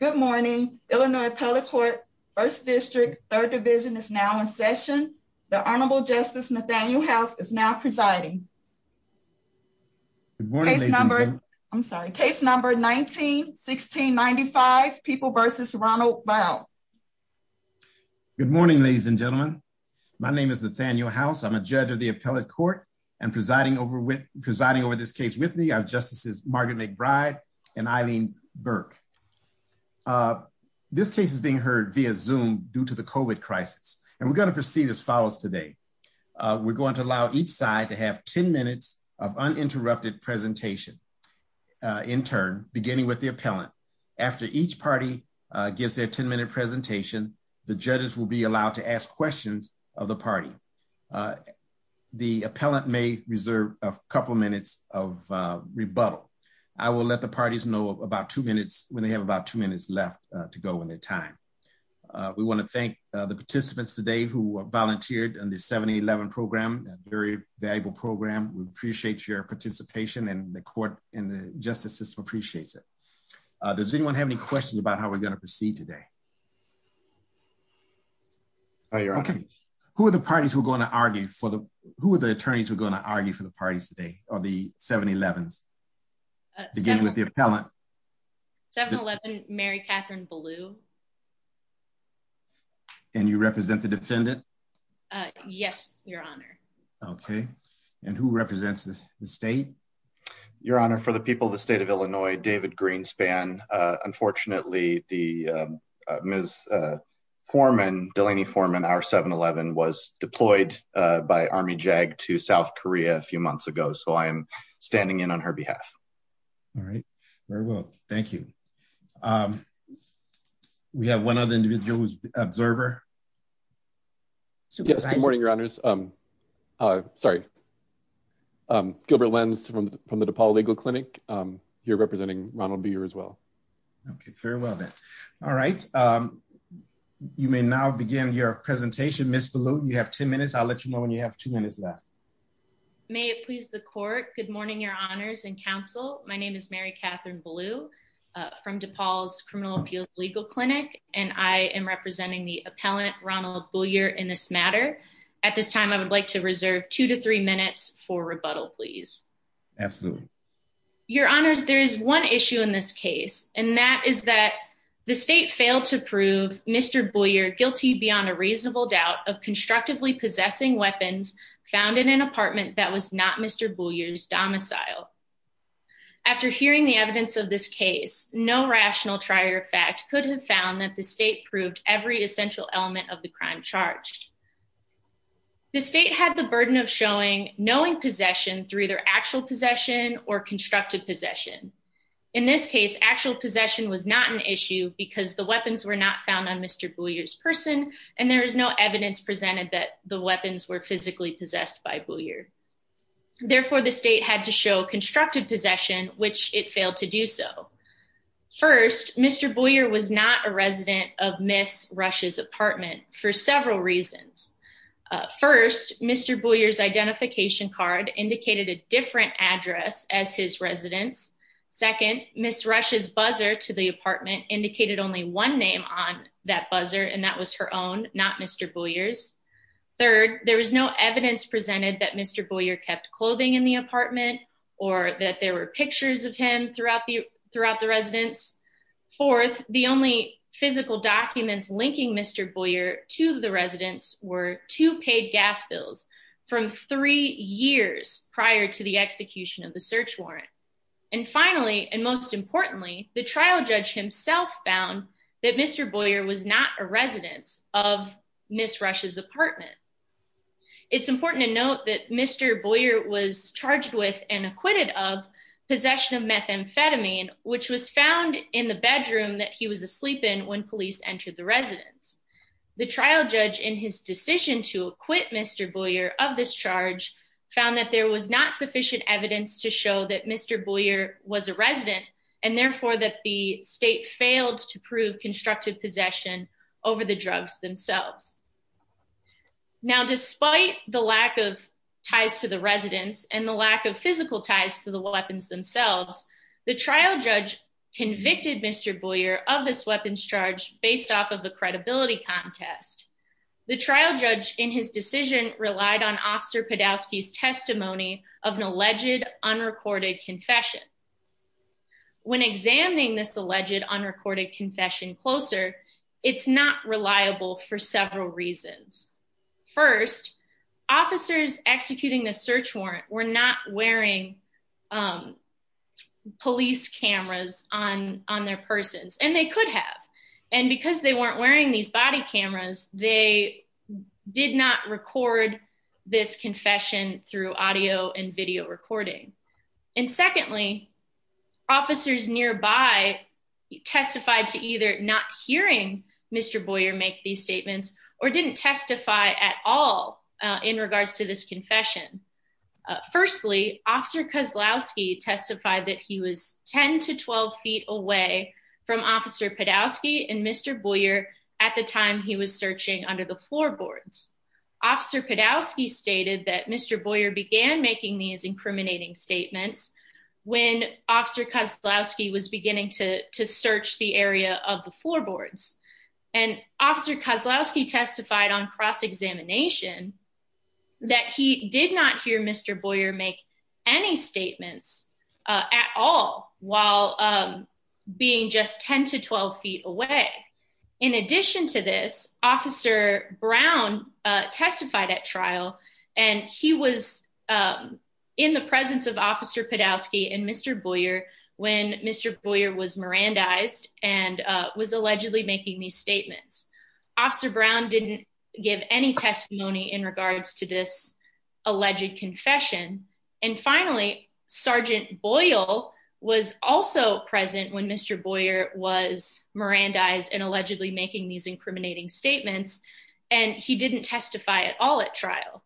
Good morning, Illinois Appellate Court, 1st District, 3rd Division is now in session. The Honorable Justice Nathaniel House is now presiding. Case number, I'm sorry, case number 19-16-95, People v. Ronald Bow. Good morning, ladies and gentlemen. My name is Nathaniel House. I'm a judge of the Appellate Court and presiding over this case with me are Justices Margaret McBride and Eileen Burke. This case is being heard via Zoom due to the COVID crisis, and we're going to proceed as follows today. We're going to allow each side to have 10 minutes of uninterrupted presentation. In turn, beginning with the appellant. After each party gives their 10 minute presentation, the judges will be allowed to ask questions of the party. The appellant may reserve a couple minutes of rebuttal. I will let the parties know about two minutes when they have about two minutes left to go in their time. We want to thank the participants today who volunteered in the 7-Eleven program, a very valuable program. We appreciate your participation and the court and the justice system appreciates it. Does anyone have any questions about how we're going to proceed today? Okay. Who are the parties who are going to argue for the, who are the attorneys who are going to argue for the parties today, or the 7-Elevens? Beginning with the appellant. 7-Eleven, Mary Catherine Ballew. And you represent the defendant? Yes, Your Honor. Okay. And who represents the state? Your Honor, for the people of the state of Illinois, David Greenspan. Unfortunately, the Ms. Foreman, Delaney Foreman, our 7-Eleven was deployed by Army JAG to South Korea a few months ago, so I am standing in on her behalf. All right. Very well. Thank you. We have one other individual observer. Yes, good morning, Your Honors. Sorry. Gilbert Lenz from the DePaul Legal Clinic. You're representing Ronald B. as well. Okay, very well then. All right. You may now begin your presentation, Ms. Ballew. You have 10 minutes. I'll let you know when you have two minutes left. May it please the court. Good morning, Your Honors and counsel. My name is Mary Catherine Ballew from DePaul's Criminal Appeals Legal Clinic, and I am representing the appellant, Ronald Boyer, in this matter. At this time, I would like to reserve two to three minutes for rebuttal, please. Absolutely. Your Honors, there is one issue in this case, and that is that the state failed to prove Mr. Boyer guilty beyond a reasonable doubt of constructively possessing weapons found in an apartment that was not Mr. Boyer's domicile. After hearing the evidence of this case, no rational trier fact could have found that the state proved every essential element of the crime charged. The state had the burden of showing knowing possession through either actual possession or constructive possession. In this case, actual possession was not an issue because the weapons were not found on Mr. Boyer's person, and there is no evidence presented that the weapons were physically possessed by Boyer. Therefore, the state had to show constructive possession, which it failed to do so. First, Mr. Boyer was not a resident of Ms. Rush's apartment for several reasons. First, Mr. Boyer's identification card indicated a different address as his residence. Second, Ms. Rush's buzzer to the apartment indicated only one name on that buzzer, and that was her own, not Mr. Boyer's. Third, there was no evidence presented that Mr. Boyer kept clothing in the apartment or that there were pictures of him throughout the residence. Fourth, the only physical documents linking Mr. Boyer to the residence were two paid gas bills from three years prior to the execution of the search warrant. And finally, and most importantly, the trial judge himself found that Mr. Boyer was not a resident of Ms. Rush's apartment. It's important to note that Mr. Boyer was charged with and acquitted of possession of methamphetamine, which was found in the bedroom that he was asleep in when police entered the residence. The trial judge, in his decision to acquit Mr. Boyer of this charge, found that there was not sufficient evidence to show that Mr. Boyer was a resident, and therefore that the state failed to prove constructive possession over the drugs themselves. Now, despite the lack of ties to the residence and the lack of physical ties to the weapons themselves, the trial judge convicted Mr. Boyer of this weapons charge based off of the credibility contest. The trial judge, in his decision, relied on Officer Podolsky's testimony of an alleged unrecorded confession. When examining this alleged unrecorded confession closer, it's not reliable for several reasons. First, officers executing the search warrant were not wearing police cameras on their persons, and they could have. And because they weren't wearing these body cameras, they did not record this confession through audio and video recording. And secondly, officers nearby testified to either not hearing Mr. Boyer make these statements or didn't testify at all in regards to this confession. Firstly, Officer Kozlowski testified that he was 10 to 12 feet away from Officer Podolsky and Mr. Boyer at the time he was searching under the floorboards. Officer Podolsky stated that Mr. Boyer began making these incriminating statements when Officer Kozlowski was beginning to search the area of the floorboards. And Officer Kozlowski testified on cross-examination that he did not hear Mr. Boyer make any statements at all while being just 10 to 12 feet away. In addition to this, Officer Brown testified at trial and he was in the presence of Officer Podolsky and Mr. Boyer when Mr. Boyer was Mirandized and was allegedly making these statements. Officer Brown didn't give any testimony in regards to this alleged confession. And finally, Sergeant Boyle was also present when Mr. Boyer was Mirandized and allegedly making these incriminating statements and he didn't testify at all at trial.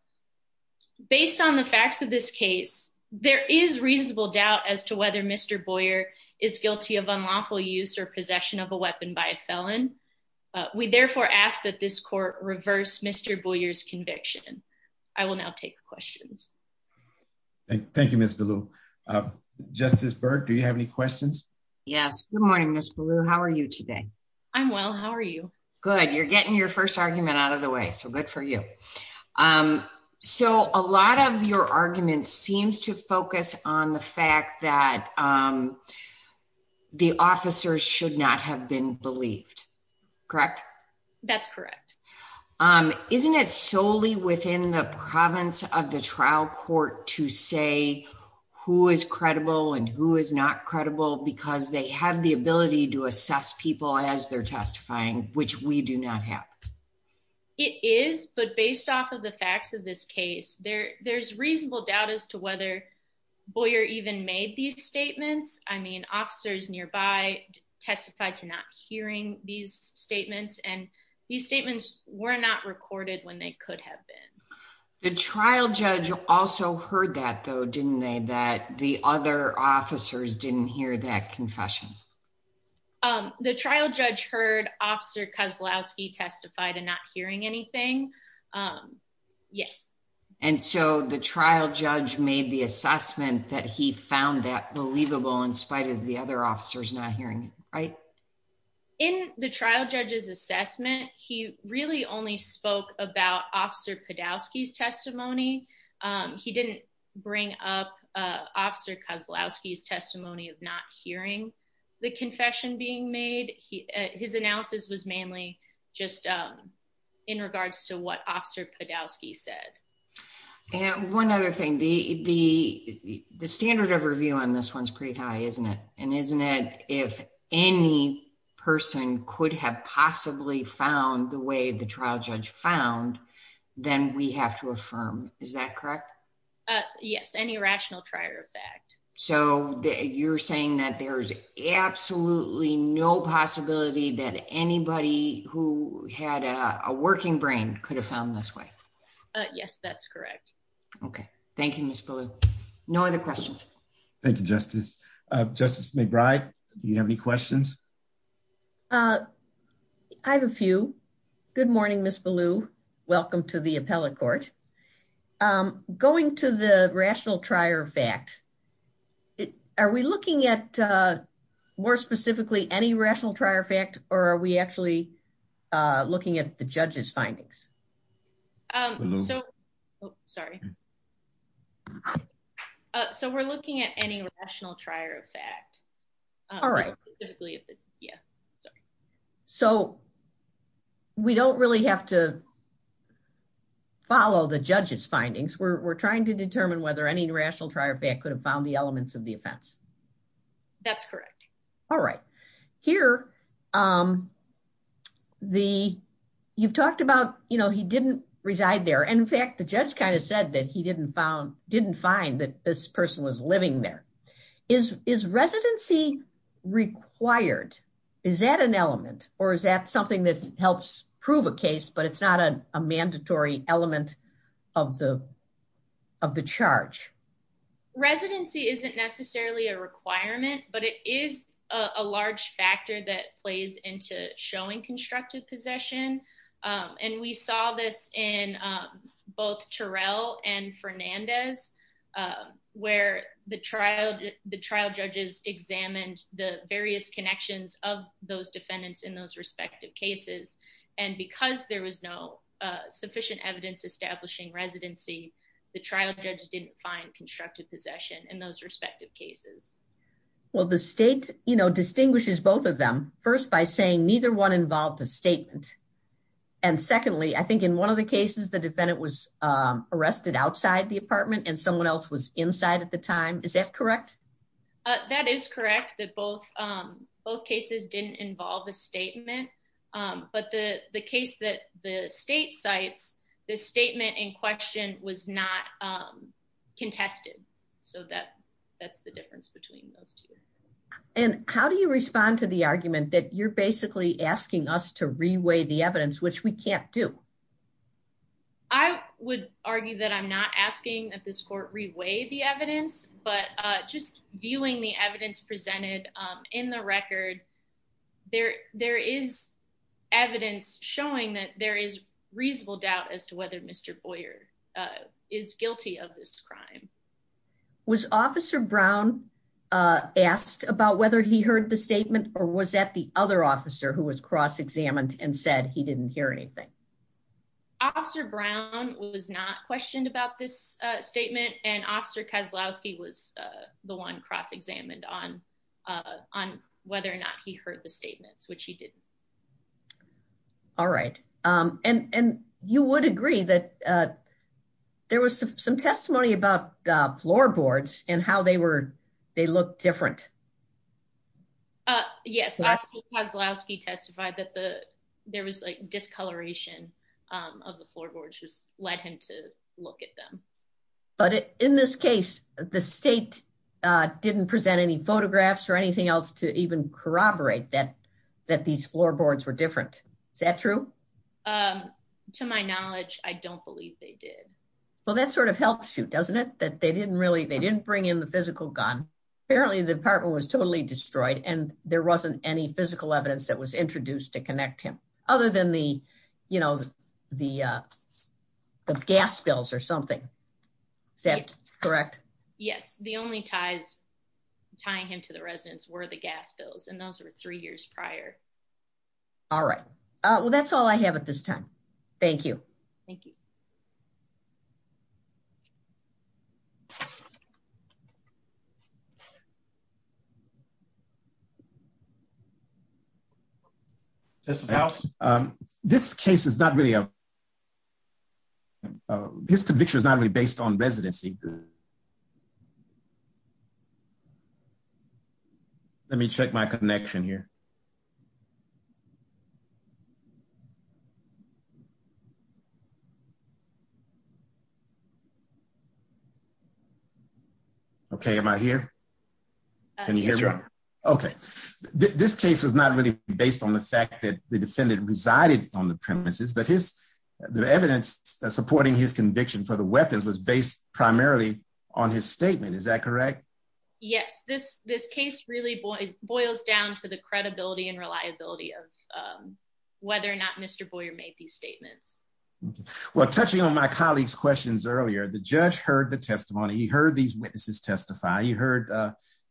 Based on the facts of this case, there is reasonable doubt as to whether Mr. Boyer is guilty of unlawful use or possession of a weapon by a felon. We therefore ask that this court reverse Mr. Boyer's conviction. I will now take questions. Thank you, Ms. Ballou. Justice Burke, do you have any questions? Yes. Good morning, Ms. Ballou. How are you today? I'm well. How are you? Good. You're getting your first argument out of the way, so good for you. So a lot of your argument seems to focus on the fact that the officers should not have been believed. Correct? That's correct. Isn't it solely within the province of the trial court to say who is credible and who is not credible because they have the ability to assess people as they're testifying, which we do not have? It is, but based off of the facts of this case, there's reasonable doubt as to whether Boyer even made these statements. I mean, officers nearby testified to not hearing these statements, and these statements were not recorded when they could have been. The trial judge also heard that, though, didn't they, that the other officers didn't hear that confession? The trial judge heard Officer Kozlowski testify to not hearing anything. Yes. And so the trial judge made the assessment that he found that believable in spite of the other officers not hearing it, right? In the trial judge's assessment, he really only spoke about Officer Podolski's testimony. He didn't bring up Officer Kozlowski's testimony of not hearing the confession being made. His analysis was mainly just in regards to what Officer Podolski said. And one other thing, the standard of review on this one's pretty high, isn't it? And isn't it if any person could have possibly found the way the trial judge found, then we have to affirm. Is that correct? Yes. Any rational trier of fact. So you're saying that there's absolutely no possibility that anybody who had a working brain could have found this way? Yes, that's correct. Okay. Thank you, Ms. Ballou. No other questions. Thank you, Justice. Justice McBride, do you have any questions? I have a few. Good morning, Ms. Ballou. Welcome to the appellate court. Going to the rational trier of fact, are we looking at more specifically any rational trier of fact, or are we actually looking at the judge's findings? So we're looking at any rational trier of fact. All right. So we don't really have to follow the judge's findings. We're trying to determine whether any rational trier of fact could have found the elements of the offense. That's correct. All right. Here, you've talked about he didn't reside there. And in fact, the judge kind of said that he didn't find that this person was living there. Is residency required? Is that an element, or is that something that helps prove a case, but it's not a mandatory element of the charge? Residency isn't necessarily a requirement, but it is a large factor that plays into showing constructive possession. And we saw this in both Terrell and Fernandez, where the trial judges examined the various connections of those defendants in those respective cases. And because there was no sufficient evidence establishing residency, the trial judge didn't find constructive possession in those respective cases. Well, the state distinguishes both of them, first by saying neither one involved a statement. And secondly, I think in one of the cases, the defendant was arrested outside the apartment and someone else was inside at the time. Is that correct? That is correct, that both cases didn't involve a statement. But the case that the state cites, the statement in question was not contested. So that's the difference between those two. And how do you respond to the argument that you're basically asking us to reweigh the evidence, which we can't do? I would argue that I'm not asking that this court reweigh the evidence, but just viewing the evidence presented in the record, there is evidence showing that there is reasonable doubt as to whether Mr. Boyer is guilty of this crime. Was Officer Brown asked about whether he heard the statement or was that the other officer who was cross-examined and said he didn't hear anything? Officer Brown was not questioned about this statement, and Officer Kozlowski was the one cross-examined on whether or not he heard the statements, which he didn't. All right. And you would agree that there was some testimony about floorboards and how they looked different. Yes, Officer Kozlowski testified that there was discoloration of the floorboards which led him to look at them. But in this case, the state didn't present any photographs or anything else to even corroborate that these floorboards were different. Is that true? To my knowledge, I don't believe they did. Well, that sort of helps you, doesn't it? They didn't bring in the physical gun. Apparently, the apartment was totally destroyed and there wasn't any physical evidence that was introduced to connect him, other than the gas bills or something. Is that correct? Yes, the only ties tying him to the residence were the gas bills, and those were three years prior. All right. Well, that's all I have at this time. Thank you. Thank you. Justice House? This conviction is not really based on residency. Let me check my connection here. Okay, am I here? Can you hear me? Okay. This case was not really based on the fact that the defendant resided on the premises, but the evidence supporting his conviction for the weapons was based primarily on his statement. Is that correct? Yes, this case really boils down to the credibility and reliability of whether or not Mr. Boyer made these statements. Well, touching on my colleague's questions earlier, the judge heard the testimony. He heard these witnesses testify. He heard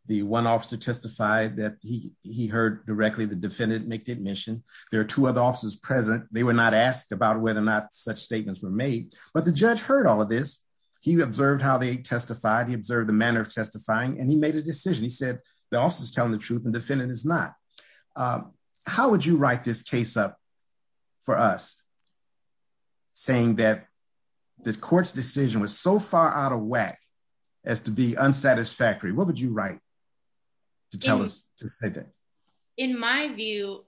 the one officer testify that he heard directly the defendant make the admission. There are two other officers present. They were not asked about whether or not such statements were made, but the judge heard all of this. He observed how they testified. He observed the manner of testifying, and he made a decision. He said, the officer is telling the truth and the defendant is not. How would you write this case up for us, saying that the court's decision was so far out of whack as to be unsatisfactory? What would you write to tell us to say that? In my view,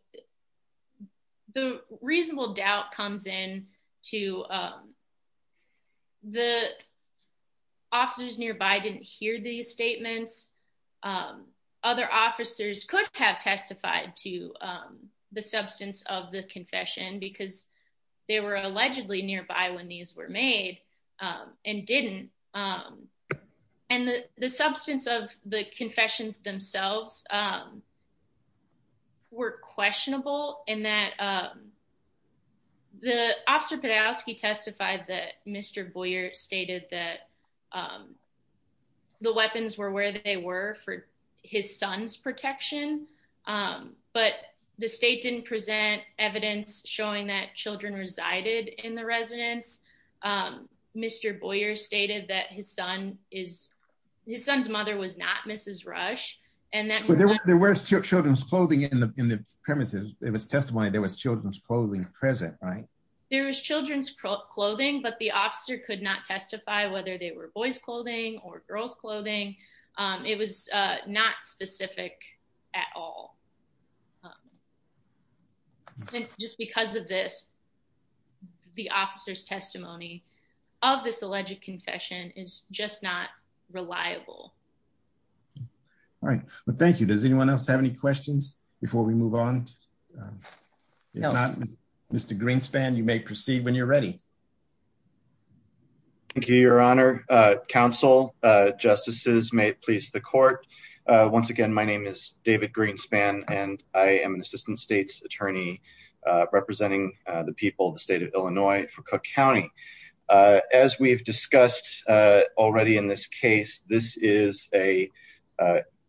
the reasonable doubt comes in to the officers nearby didn't hear these statements. Other officers could have testified to the substance of the confession because they were allegedly nearby when these were made and didn't. The substance of the confessions themselves were questionable in that the officer Podolsky testified that Mr. Boyer stated that the weapons were where they were for his son's protection, but the state didn't present evidence showing that children resided in the residence. Mr. Boyer stated that his son is his son's mother was not Mrs. Rush and that there was children's clothing in the premises. It was testimony. There was children's clothing present, right? There was children's clothing, but the officer could not testify whether they were boys clothing or girls clothing. It was not specific at all. Just because of this, the officer's testimony of this alleged confession is just not reliable. All right, well, thank you. Does anyone else have any questions before we move on? Mr. Greenspan, you may proceed when you're ready. Thank you, Your Honor. Council justices may please the court. Once again, my name is David Greenspan, and I am an assistant state's attorney representing the people of the state of Illinois for Cook County. As we've discussed already in this case, this is a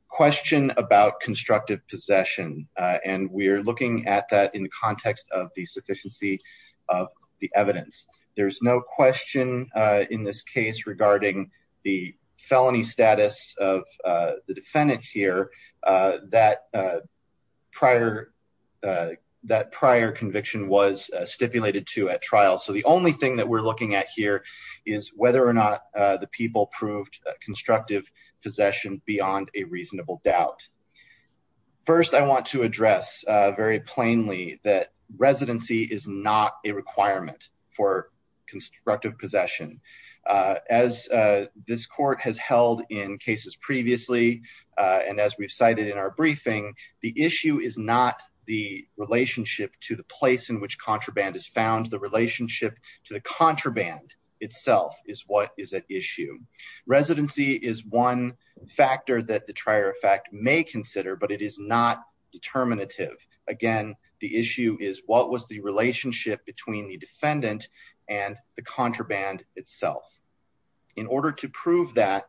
question about constructive possession, and we're looking at that in the context of the sufficiency of the evidence. There's no question in this case regarding the felony status of the defendant here that prior conviction was stipulated to at trial. So the only thing that we're looking at here is whether or not the people proved constructive possession beyond a reasonable doubt. First, I want to address very plainly that residency is not a requirement for constructive possession. As this court has held in cases previously, and as we've cited in our briefing, the issue is not the relationship to the place in which contraband is found. The relationship to the contraband itself is what is at issue. Residency is one factor that the trier effect may consider, but it is not determinative. Again, the issue is what was the relationship between the defendant and the contraband itself. In order to prove that,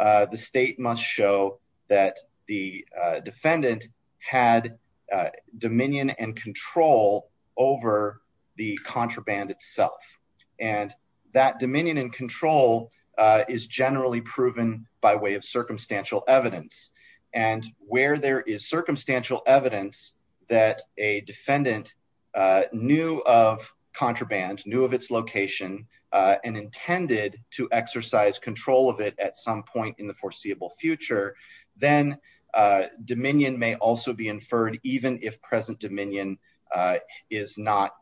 the state must show that the defendant had dominion and control over the contraband itself, and that dominion and control is generally proven by way of circumstantial evidence. And where there is circumstantial evidence that a defendant knew of contraband, knew of its location, and intended to exercise control of it at some point in the foreseeable future, then dominion may also be inferred, even if present dominion is not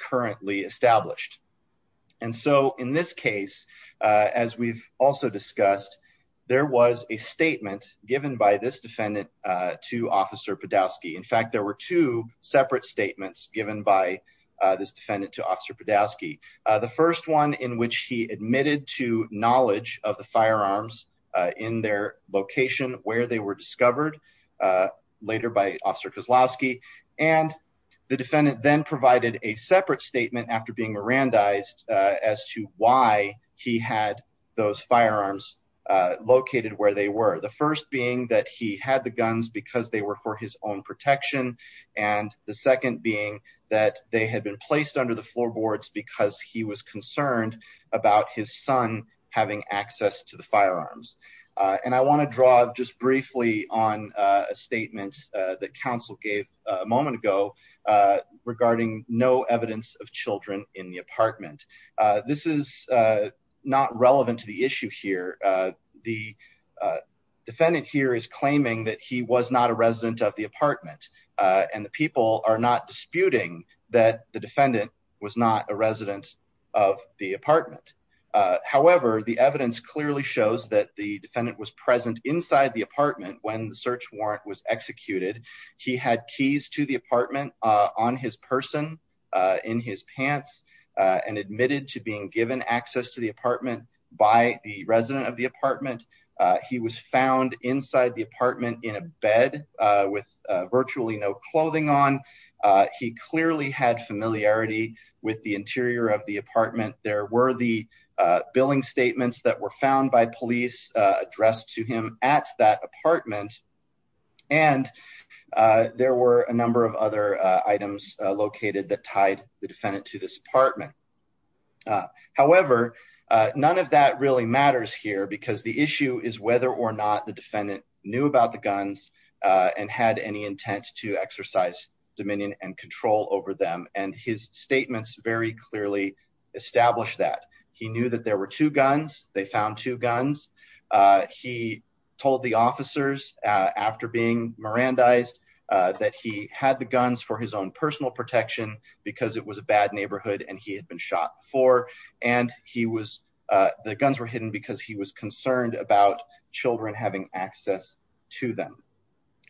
currently established. And so in this case, as we've also discussed, there was a statement given by this defendant to Officer Podowski. In fact, there were two separate statements given by this defendant to Officer Podowski. The first one in which he admitted to knowledge of the firearms in their location where they were discovered later by Officer Kozlowski. And the defendant then provided a separate statement after being Mirandized as to why he had those firearms located where they were. The first being that he had the guns because they were for his own protection, and the second being that they had been placed under the floorboards because he was concerned about his son having access to the firearms. And I want to draw just briefly on a statement that counsel gave a moment ago regarding no evidence of children in the apartment. This is not relevant to the issue here. The defendant here is claiming that he was not a resident of the apartment, and the people are not disputing that the defendant was not a resident of the apartment. However, the evidence clearly shows that the defendant was present inside the apartment when the search warrant was executed. He had keys to the apartment on his person, in his pants, and admitted to being given access to the apartment by the resident of the apartment. He was found inside the apartment in a bed with virtually no clothing on. He clearly had familiarity with the interior of the apartment. There were the billing statements that were found by police addressed to him at that apartment. And there were a number of other items located that tied the defendant to this apartment. However, none of that really matters here because the issue is whether or not the defendant knew about the guns and had any intent to exercise dominion and control over them. And his statements very clearly established that. He knew that there were two guns. They found two guns. He told the officers after being Mirandized that he had the guns for his own personal protection because it was a bad neighborhood and he had been shot before. And the guns were hidden because he was concerned about children having access to them.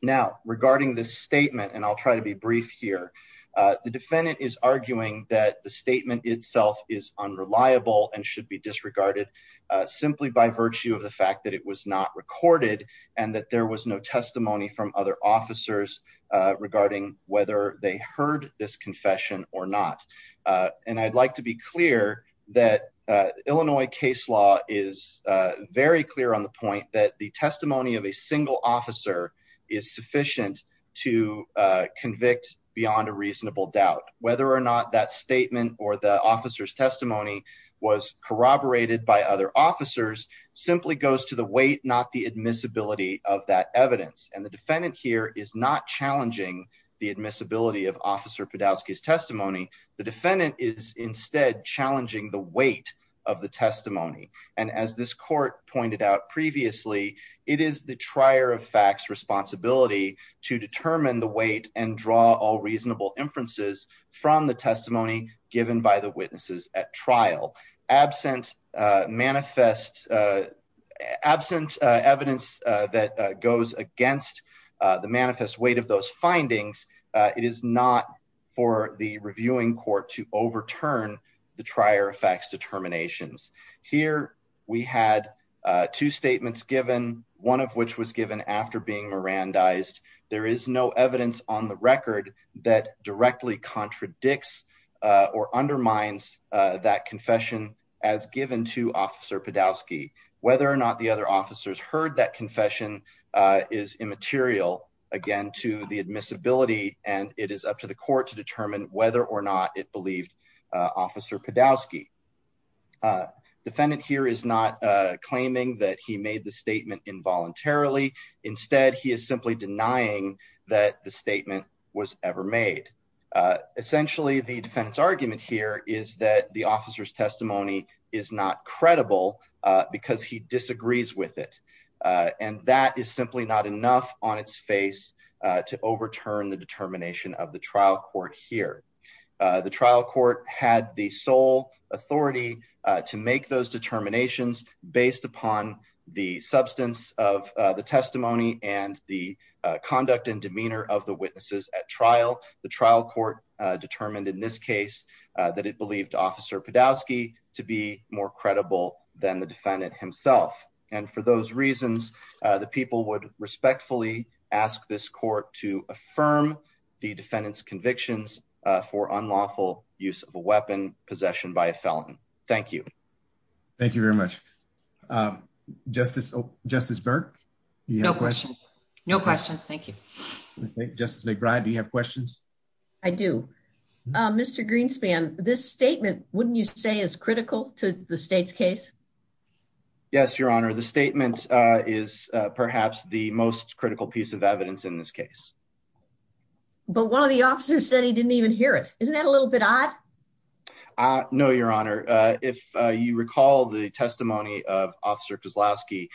Now, regarding this statement, and I'll try to be brief here, the defendant is arguing that the statement itself is unreliable and should be disregarded simply by virtue of the fact that it was not recorded and that there was no testimony from other officers regarding whether they heard this confession or not. And I'd like to be clear that Illinois case law is very clear on the point that the testimony of a single officer is sufficient to convict beyond a reasonable doubt whether or not that statement or the officer's testimony was corroborated by other officers simply goes to the weight, not the admissibility of that evidence. And the defendant here is not challenging the admissibility of Officer Podolsky's testimony. The defendant is instead challenging the weight of the testimony. And as this court pointed out previously, it is the trier of facts responsibility to determine the weight and draw all reasonable inferences from the testimony given by the witnesses at trial. Absent manifest, absent evidence that goes against the manifest weight of those findings. It is not for the reviewing court to overturn the trier of facts determinations. Here we had two statements given, one of which was given after being Mirandized. There is no evidence on the record that directly contradicts or undermines that confession as given to Officer Podolsky, whether or not the other officers heard that confession is immaterial again to the admissibility, and it is up to the court to determine whether or not it believed Officer Podolsky. Defendant here is not claiming that he made the statement involuntarily. Instead, he is simply denying that the statement was ever made. Essentially, the defense argument here is that the officer's testimony is not credible because he disagrees with it. And that is simply not enough on its face to overturn the determination of the trial court here. The trial court had the sole authority to make those determinations based upon the substance of the testimony and the conduct and demeanor of the witnesses at trial. The trial court determined in this case that it believed Officer Podolsky to be more credible than the defendant himself. And for those reasons, the people would respectfully ask this court to affirm the defendant's convictions for unlawful use of a weapon possession by a felon. Thank you. Thank you very much. Justice Justice Burke. No questions. No questions. Thank you. Justice McBride, do you have questions. I do. Mr Greenspan, this statement, wouldn't you say is critical to the state's case. Yes, Your Honor, the statement is perhaps the most critical piece of evidence in this case. But one of the officers said he didn't even hear it. Isn't that a little bit odd. No, Your Honor. If you recall the testimony of Officer Kozlowski,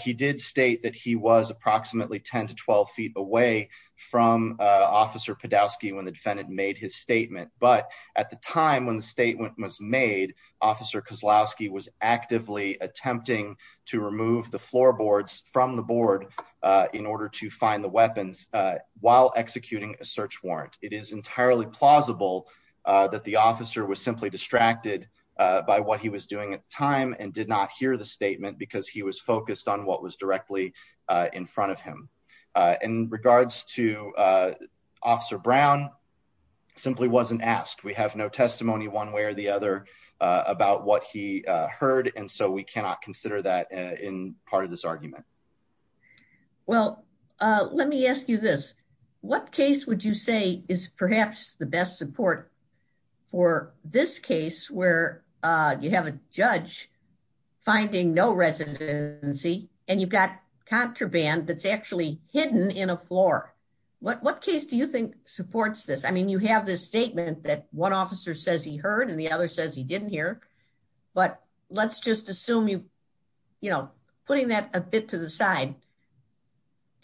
he did state that he was approximately 10 to 12 feet away from Officer Podolsky when the defendant made his statement. But at the time when the statement was made, Officer Kozlowski was actively attempting to remove the floorboards from the board in order to find the weapons. While executing a search warrant. It is entirely plausible that the officer was simply distracted by what he was doing at the time and did not hear the statement because he was focused on what was directly in front of him. In regards to Officer Brown simply wasn't asked. We have no testimony one way or the other about what he heard and so we cannot consider that in part of this argument. Well, let me ask you this. What case would you say is perhaps the best support for this case where you have a judge finding no residency, and you've got contraband that's actually hidden in a floor. What case do you think supports this? I mean you have this statement that one officer says he heard and the other says he didn't hear. But let's just assume you, you know, putting that a bit to the side.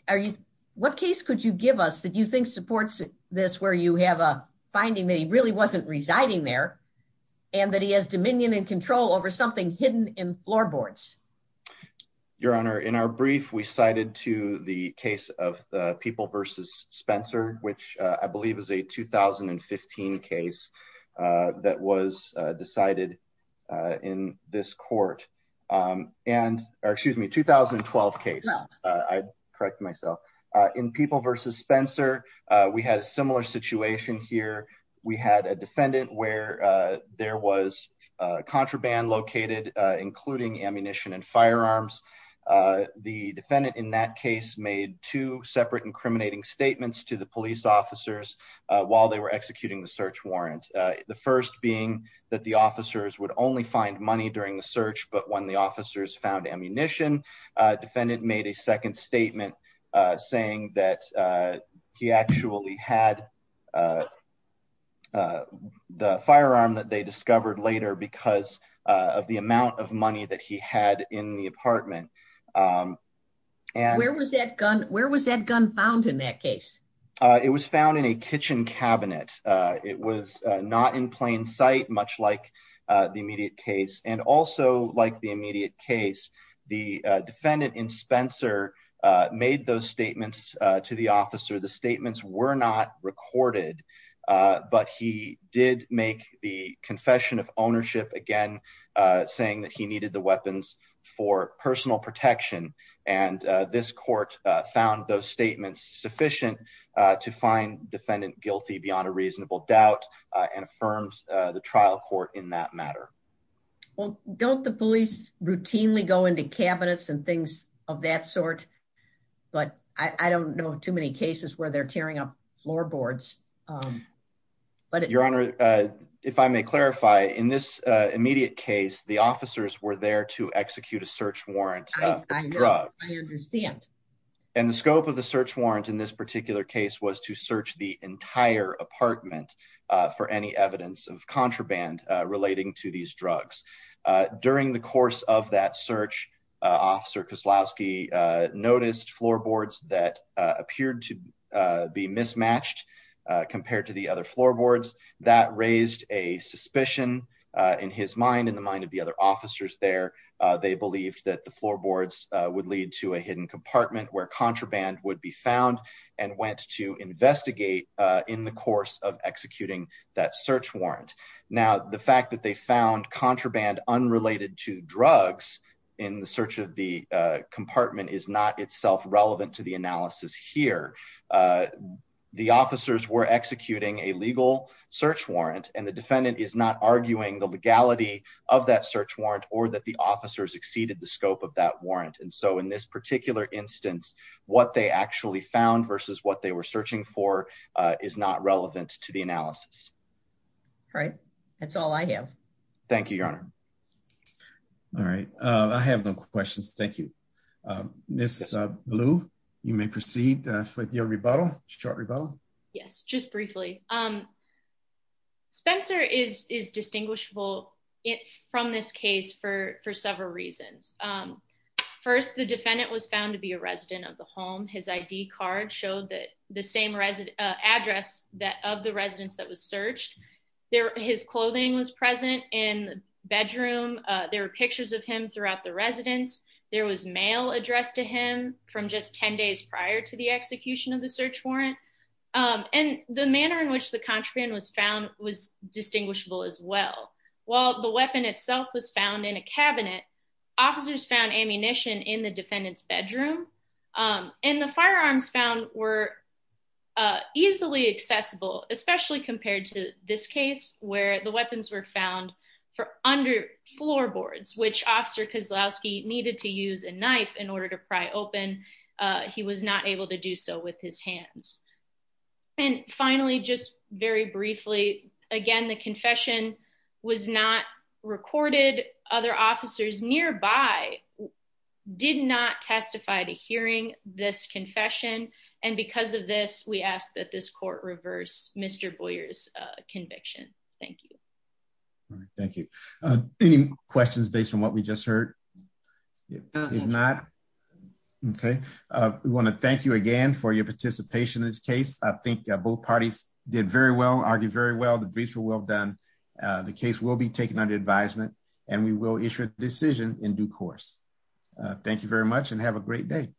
Are you, what case could you give us that you think supports this where you have a finding that he really wasn't residing there, and that he has dominion and control over something hidden in floorboards. Your Honor in our brief we cited to the case of the people versus Spencer, which I believe is a 2015 case that was decided in this court. And, or excuse me 2012 case, I correct myself in people versus Spencer. We had a similar situation here. We had a defendant where there was contraband located, including ammunition and firearms. The defendant in that case made two separate incriminating statements to the police officers while they were executing the search warrant. The first being that the officers would only find money during the search, but when the officers found ammunition, defendant made a second statement saying that he actually had The firearm that they discovered later because of the amount of money that he had in the apartment. And where was that gun. Where was that gun found in that case. It was found in a kitchen cabinet. It was not in plain sight, much like the immediate case and also like the immediate case, the defendant in Spencer made those statements to the officer the statements were not recorded. But he did make the confession of ownership again saying that he needed the weapons for personal protection and this court found those statements sufficient to find defendant guilty beyond a reasonable doubt and affirms the trial court in that matter. Well, don't the police routinely go into cabinets and things of that sort. But I don't know too many cases where they're tearing up floorboards. But your honor. If I may clarify, in this immediate case, the officers were there to execute a search warrant. I understand. And the scope of the search warrant in this particular case was to search the entire apartment for any evidence of contraband relating to these drugs. During the course of that search officer because Lasky noticed floorboards that appeared to be mismatched compared to the other floorboards that raised a suspicion in his mind in the mind of the other officers there. They believed that the floorboards would lead to a hidden compartment where contraband would be found and went to investigate in the course of executing that search warrant. Now, the fact that they found contraband unrelated to drugs in the search of the compartment is not itself relevant to the analysis here. The officers were executing a legal search warrant and the defendant is not arguing the legality of that search warrant or that the officers exceeded the scope of that warrant. And so in this particular instance, what they actually found versus what they were searching for is not relevant to the analysis. Right. That's all I have. Thank you, Your Honor. All right. I have no questions. Thank you. Miss Blue, you may proceed with your rebuttal, short rebuttal. Yes, just briefly. Spencer is distinguishable from this case for several reasons. First, the defendant was found to be a resident of the home. His ID card showed that the same address that of the residence that was searched. His clothing was present in the bedroom. There were pictures of him throughout the residence. There was mail addressed to him from just 10 days prior to the execution of the search warrant. And the manner in which the contraband was found was distinguishable as well. While the weapon itself was found in a cabinet, officers found ammunition in the defendant's bedroom. And the firearms found were easily accessible, especially compared to this case where the weapons were found for under floorboards, which Officer Kozlowski needed to use a knife in order to pry open. He was not able to do so with his hands. And finally, just very briefly, again, the confession was not recorded. Other officers nearby did not testify to hearing this confession. And because of this, we ask that this court reverse Mr. Boyer's conviction. Thank you. Thank you. Any questions based on what we just heard? If not, okay. We want to thank you again for your participation in this case. I think both parties did very well, argued very well. The briefs were well done. The case will be taken under advisement and we will issue a decision in due course. Thank you very much and have a great day.